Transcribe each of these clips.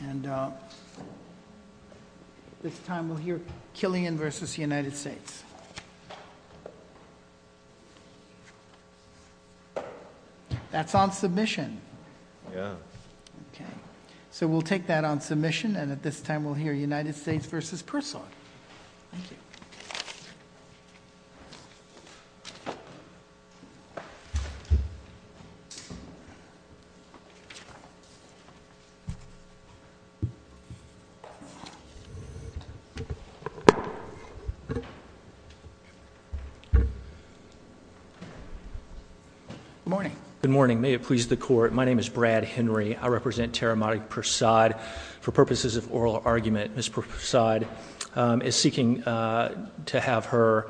And this time, we'll hear Killian v. United States. That's on submission. Yeah. Okay, so we'll take that on submission, and at this time, we'll hear United States v. Persaud. Thank you. Good morning. Good morning. May it please the Court. My name is Brad Henry. I represent Tarahumara Persaud. For purposes of oral argument, Ms. Persaud is seeking to have her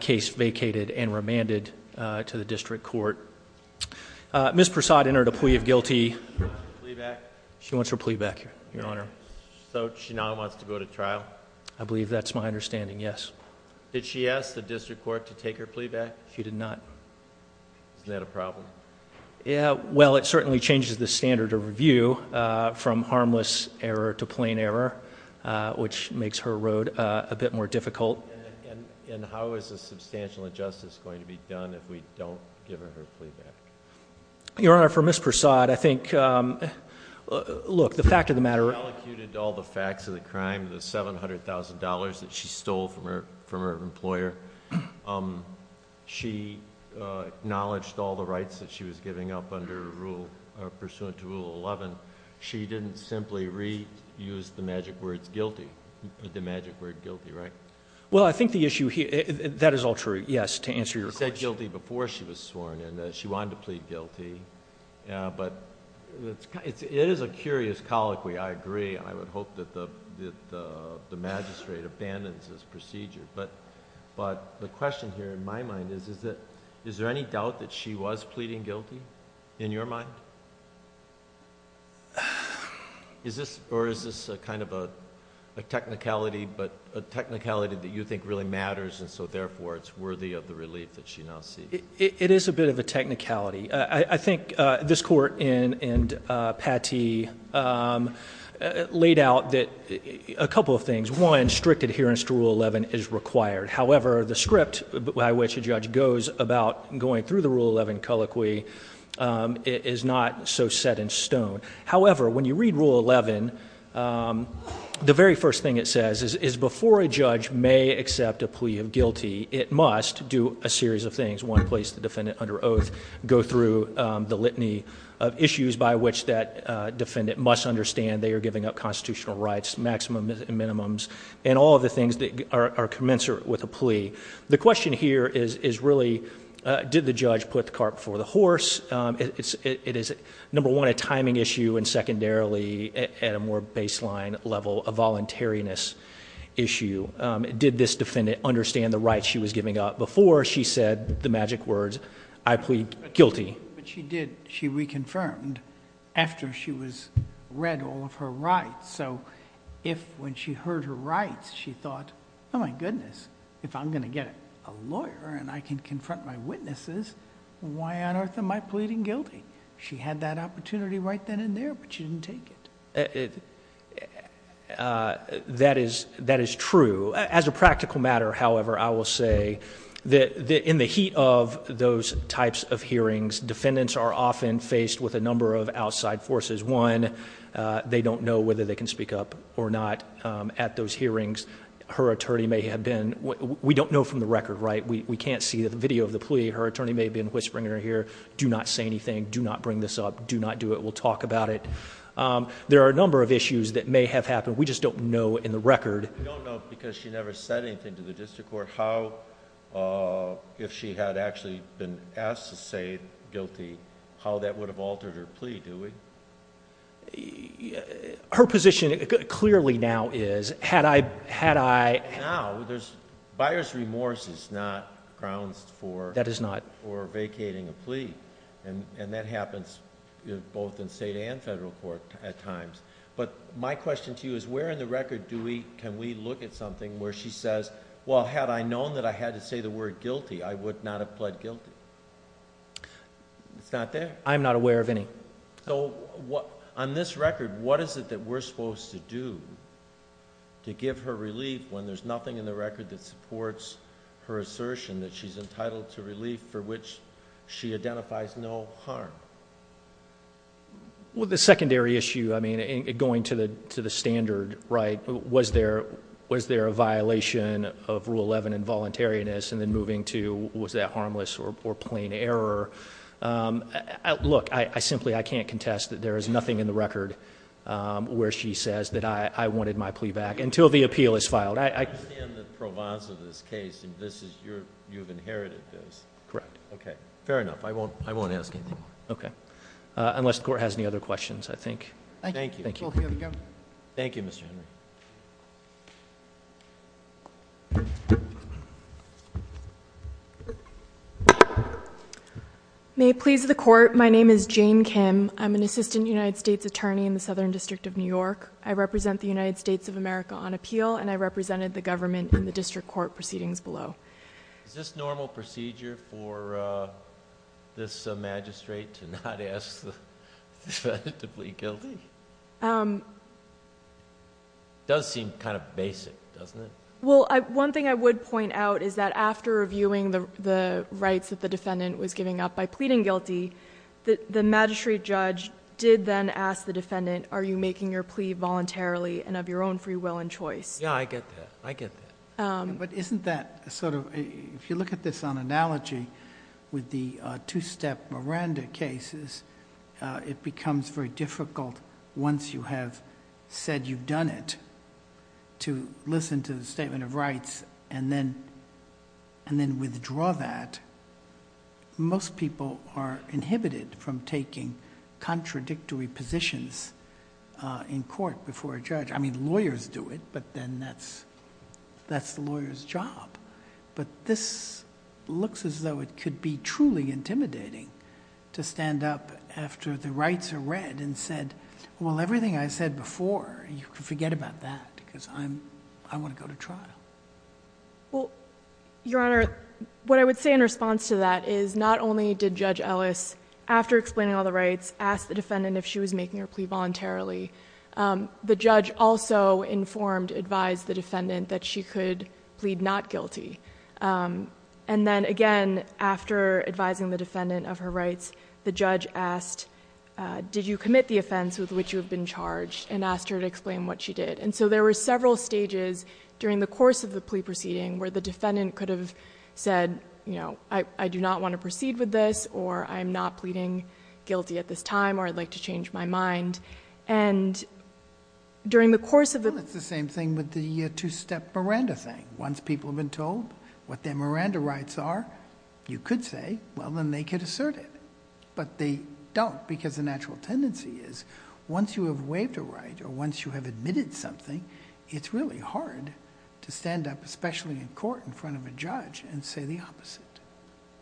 case vacated and remanded to the District Court. Ms. Persaud entered a plea of guilty. She wants her plea back, Your Honor. So she now wants to go to trial? I believe that's my understanding, yes. Did she ask the District Court to take her plea back? She did not. Isn't that a problem? Yeah, well, it certainly changes the standard of review from harmless error to plain error, which makes her road a bit more difficult. And how is a substantial injustice going to be done if we don't give her her plea back? Your Honor, for Ms. Persaud, I think, look, the fact of the matter— She relocuted all the facts of the crime, the $700,000 that she stole from her employer. She acknowledged all the rights that she was giving up under Rule—pursuant to Rule 11. She didn't simply reuse the magic word guilty, the magic word guilty, right? Well, I think the issue here—that is all true, yes, to answer your question. She said guilty before she was sworn in. She wanted to plead guilty. But it is a curious colloquy, I agree. I would hope that the magistrate abandons this procedure. But the question here in my mind is, is there any doubt that she was pleading guilty in your mind? Is this—or is this a kind of a technicality, but a technicality that you think really matters and so therefore it's worthy of the relief that she now seeks? It is a bit of a technicality. I think this Court in Pate laid out a couple of things. One, strict adherence to Rule 11 is required. However, the script by which a judge goes about going through the Rule 11 colloquy is not so set in stone. However, when you read Rule 11, the very first thing it says is before a judge may accept a plea of guilty, it must do a series of things. One, place the defendant under oath, go through the litany of issues by which that defendant must understand they are giving up constitutional rights, maximums and minimums, and all of the things that are commensurate with a plea. The question here is really, did the judge put the cart before the horse? It is number one, a timing issue, and secondarily, at a more baseline level, a voluntariness issue. Did this defendant understand the rights she was giving up before she said the magic words, I plead guilty? But she did. She reconfirmed after she read all of her rights. So if when she heard her rights, she thought, oh my goodness, if I'm going to get a lawyer and I can confront my witnesses, why on earth am I pleading guilty? She had that opportunity right then and there, but she didn't take it. That is true. As a practical matter, however, I will say that in the heat of those types of hearings, defendants are often faced with a number of outside forces. One, they don't know whether they can speak up or not. At those hearings, her attorney may have been... we don't know from the record, right? We can't see the video of the plea. Her attorney may have been whispering in her ear, do not say anything. Do not bring this up. Do not do it. We'll talk about it. There are a number of issues that may have happened. We just don't know in the record. We don't know because she never said anything to the district court how, if she had actually been asked to say guilty, how that would have altered her plea, do we? Her position clearly now is, had I... Now, buyer's remorse is not grounds for vacating a plea. That happens both in state and federal court at times. My question to you is, where in the record can we look at something where she says, well, had I known that I had to say the word guilty, I would not have pled guilty? It's not there. I'm not aware of any. On this record, what is it that we're supposed to do to give her relief when there's nothing in the record that supports her assertion that she's entitled to relief for which she identifies no harm? Well, the secondary issue, I mean, going to the standard, right, was there a violation of Rule 11, involuntariness, and then moving to, was that harmless or plain error? Look, I simply, I can't contest that there is nothing in the record where she says that I wanted my plea back until the appeal is filed. I... I understand that Pro Bono's in this case, and this is your... you've inherited this. Correct. Okay. Fair enough. I won't ask anything more. Okay. Unless the Court has any other questions, I think. Thank you. Thank you. We'll hear from you. Thank you, Mr. Henry. May it please the Court, my name is Jane Kim. I'm an assistant United States attorney in the Southern District of New York. I represent the United States of America on appeal, and I represented the government in the district court proceedings below. Is this normal procedure for this magistrate to not ask the defendant to plead guilty? Does seem kind of basic, doesn't it? Well, one thing I would point out is that after reviewing the rights that the defendant was giving up by pleading guilty, the magistrate judge did then ask the defendant, are you making your plea voluntarily and of your own free will and choice? Yeah, I get that. I get that. Isn't that sort of... if you look at this on analogy with the two-step Miranda cases, it becomes very difficult once you have said you've done it to listen to the statement of rights and then withdraw that. Most people are inhibited from taking contradictory positions in court before a judge. I mean, lawyers do it, but then that's the lawyer's job, but this looks as though it could be truly intimidating to stand up after the rights are read and said, well, everything I said before, you can forget about that because I want to go to trial. Your Honor, what I would say in response to that is not only did Judge Ellis, after explaining all the rights, ask the defendant if she was making her plea voluntarily, the judge also informed, advised the defendant that she could plead not guilty. And then again, after advising the defendant of her rights, the judge asked, did you commit the offense with which you have been charged and asked her to explain what she did. And so there were several stages during the course of the plea proceeding where the defendant could have said, you know, I do not want to proceed with this or I'm not pleading guilty at this time or I'd like to change my mind. And during the course of... Well, it's the same thing with the two-step Miranda thing. Once people have been told what their Miranda rights are, you could say, well, then they could assert it. But they don't because the natural tendency is once you have waived a right or once you have admitted something, it's really hard to stand up, especially in court, in front of a judge and say the opposite.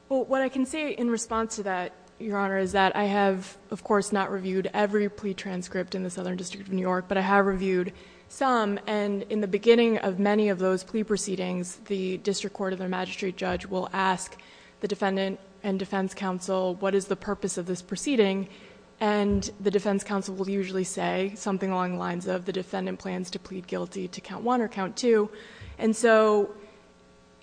Well, what I can say in response to that, Your Honor, is that I have, of course, not reviewed every plea transcript in the Southern District of New York, but I have reviewed some. And in the beginning of many of those plea proceedings, the district court or the magistrate judge will ask the defendant and defense counsel, what is the purpose of this proceeding? And the defense counsel will usually say something along the lines of the defendant plans to plead guilty to count one or count two. And so,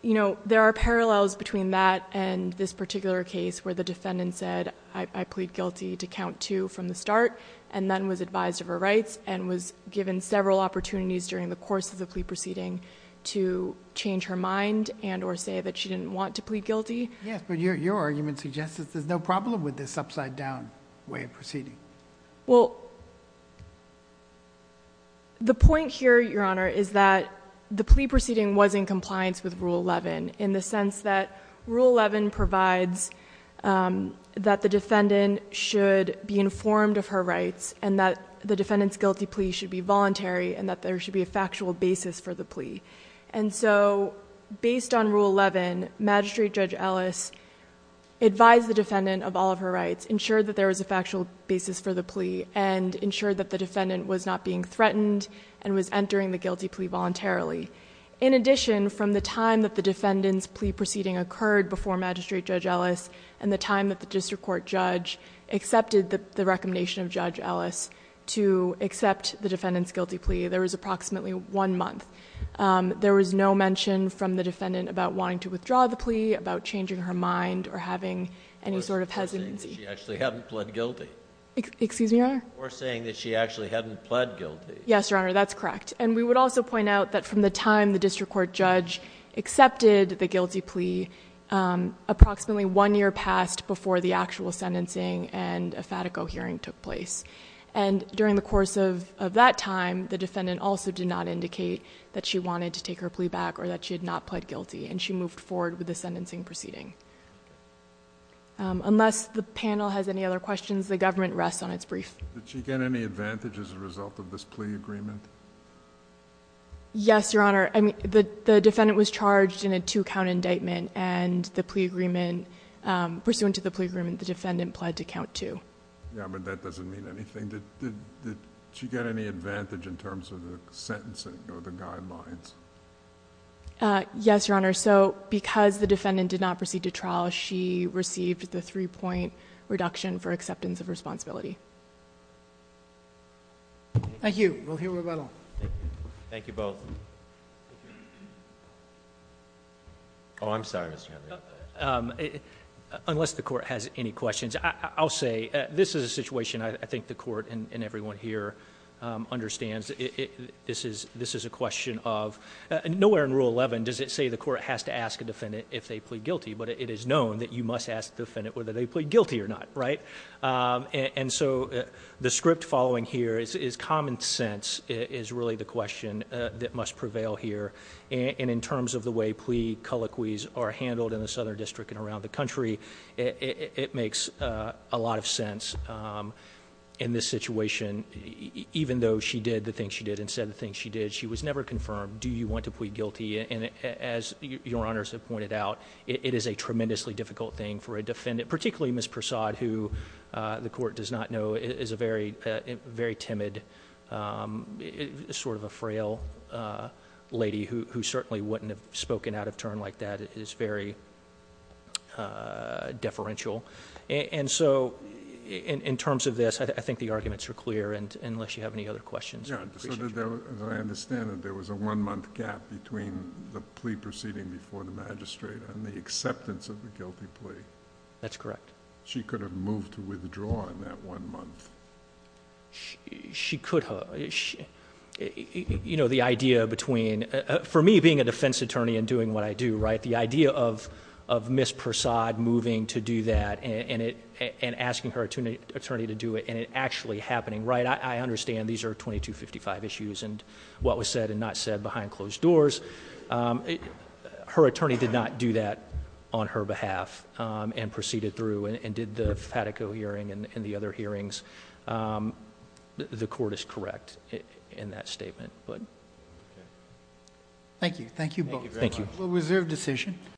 you know, there are parallels between that and this particular case where the defendant said I plead guilty to count two from the start, and then was advised of her rights and was given several opportunities during the course of the plea proceeding to change her mind and or say that she didn't want to plead guilty. Yes, but your argument suggests that there's no problem with this upside-down way of proceeding. Well, the point here, Your Honor, is that the plea proceeding was in compliance with Rule 11 in the sense that Rule 11 provides that the defendant should be informed of her rights and that the defendant's guilty plea should be voluntary and that there should be a factual basis for the plea. And so, based on Rule 11, Magistrate Judge Ellis advised the defendant of all of her rights to have a factual basis for the plea and ensured that the defendant was not being threatened and was entering the guilty plea voluntarily. In addition, from the time that the defendant's plea proceeding occurred before Magistrate Judge Ellis and the time that the district court judge accepted the recommendation of Judge Ellis to accept the defendant's guilty plea, there was approximately one month. There was no mention from the defendant about wanting to withdraw the plea, about changing her mind, or having any sort of hesitancy. She actually hadn't pled guilty. Excuse me, Your Honor? Or saying that she actually hadn't pled guilty. Yes, Your Honor, that's correct. And we would also point out that from the time the district court judge accepted the guilty plea, approximately one year passed before the actual sentencing and a FATICO hearing took place. And during the course of that time, the defendant also did not indicate that she wanted to take her plea back or that she had not pled guilty, and she moved forward with the sentencing proceeding. Unless the panel has any other questions, the government rests on its brief. Did she get any advantage as a result of this plea agreement? Yes, Your Honor. I mean, the defendant was charged in a two-count indictment, and the plea agreement, pursuant to the plea agreement, the defendant pled to count two. Yeah, but that doesn't mean anything. Did she get any advantage in terms of the sentencing or the guidelines? Yes, Your Honor. So because the defendant did not proceed to trial, she received the three-point reduction for acceptance of responsibility. Thank you. We'll hear from Rebecca. Thank you both. Oh, I'm sorry, Mr. Henry. Unless the court has any questions, I'll say this is a situation I think the court and everyone here understands. This is a question of nowhere in Rule 11 does it say the court has to ask a defendant if they plead guilty, but it is known that you must ask the defendant whether they plead guilty or not, right? And so the script following here is common sense is really the question that must prevail here. And in terms of the way plea colloquies are handled in the Southern District and around the country, it makes a lot of sense in this situation. Even though she did the things she did and said the things she did, she was never confirmed. Do you want to plead guilty? And as Your Honors have pointed out, it is a tremendously difficult thing for a defendant, particularly Ms. Persaud, who the court does not know, is a very timid, sort of a frail lady who certainly wouldn't have spoken out of turn like that. It is very deferential. And so in terms of this, I think the arguments are clear, unless you have any other questions. As I understand it, there was a one-month gap between the plea proceeding before the magistrate and the acceptance of the guilty plea. That's correct. She could have moved to withdraw in that one month. She could have. You know, the idea between, for me being a defense attorney and doing what I do, the idea of Ms. Persaud moving to do that and asking her attorney to do it and it actually happening, I understand these are 2255 issues and what was said and not said behind closed doors. Her attorney did not do that on her behalf and proceeded through and did the Fatico hearing and the other hearings. The court is correct in that statement. Thank you. Thank you both. Thank you.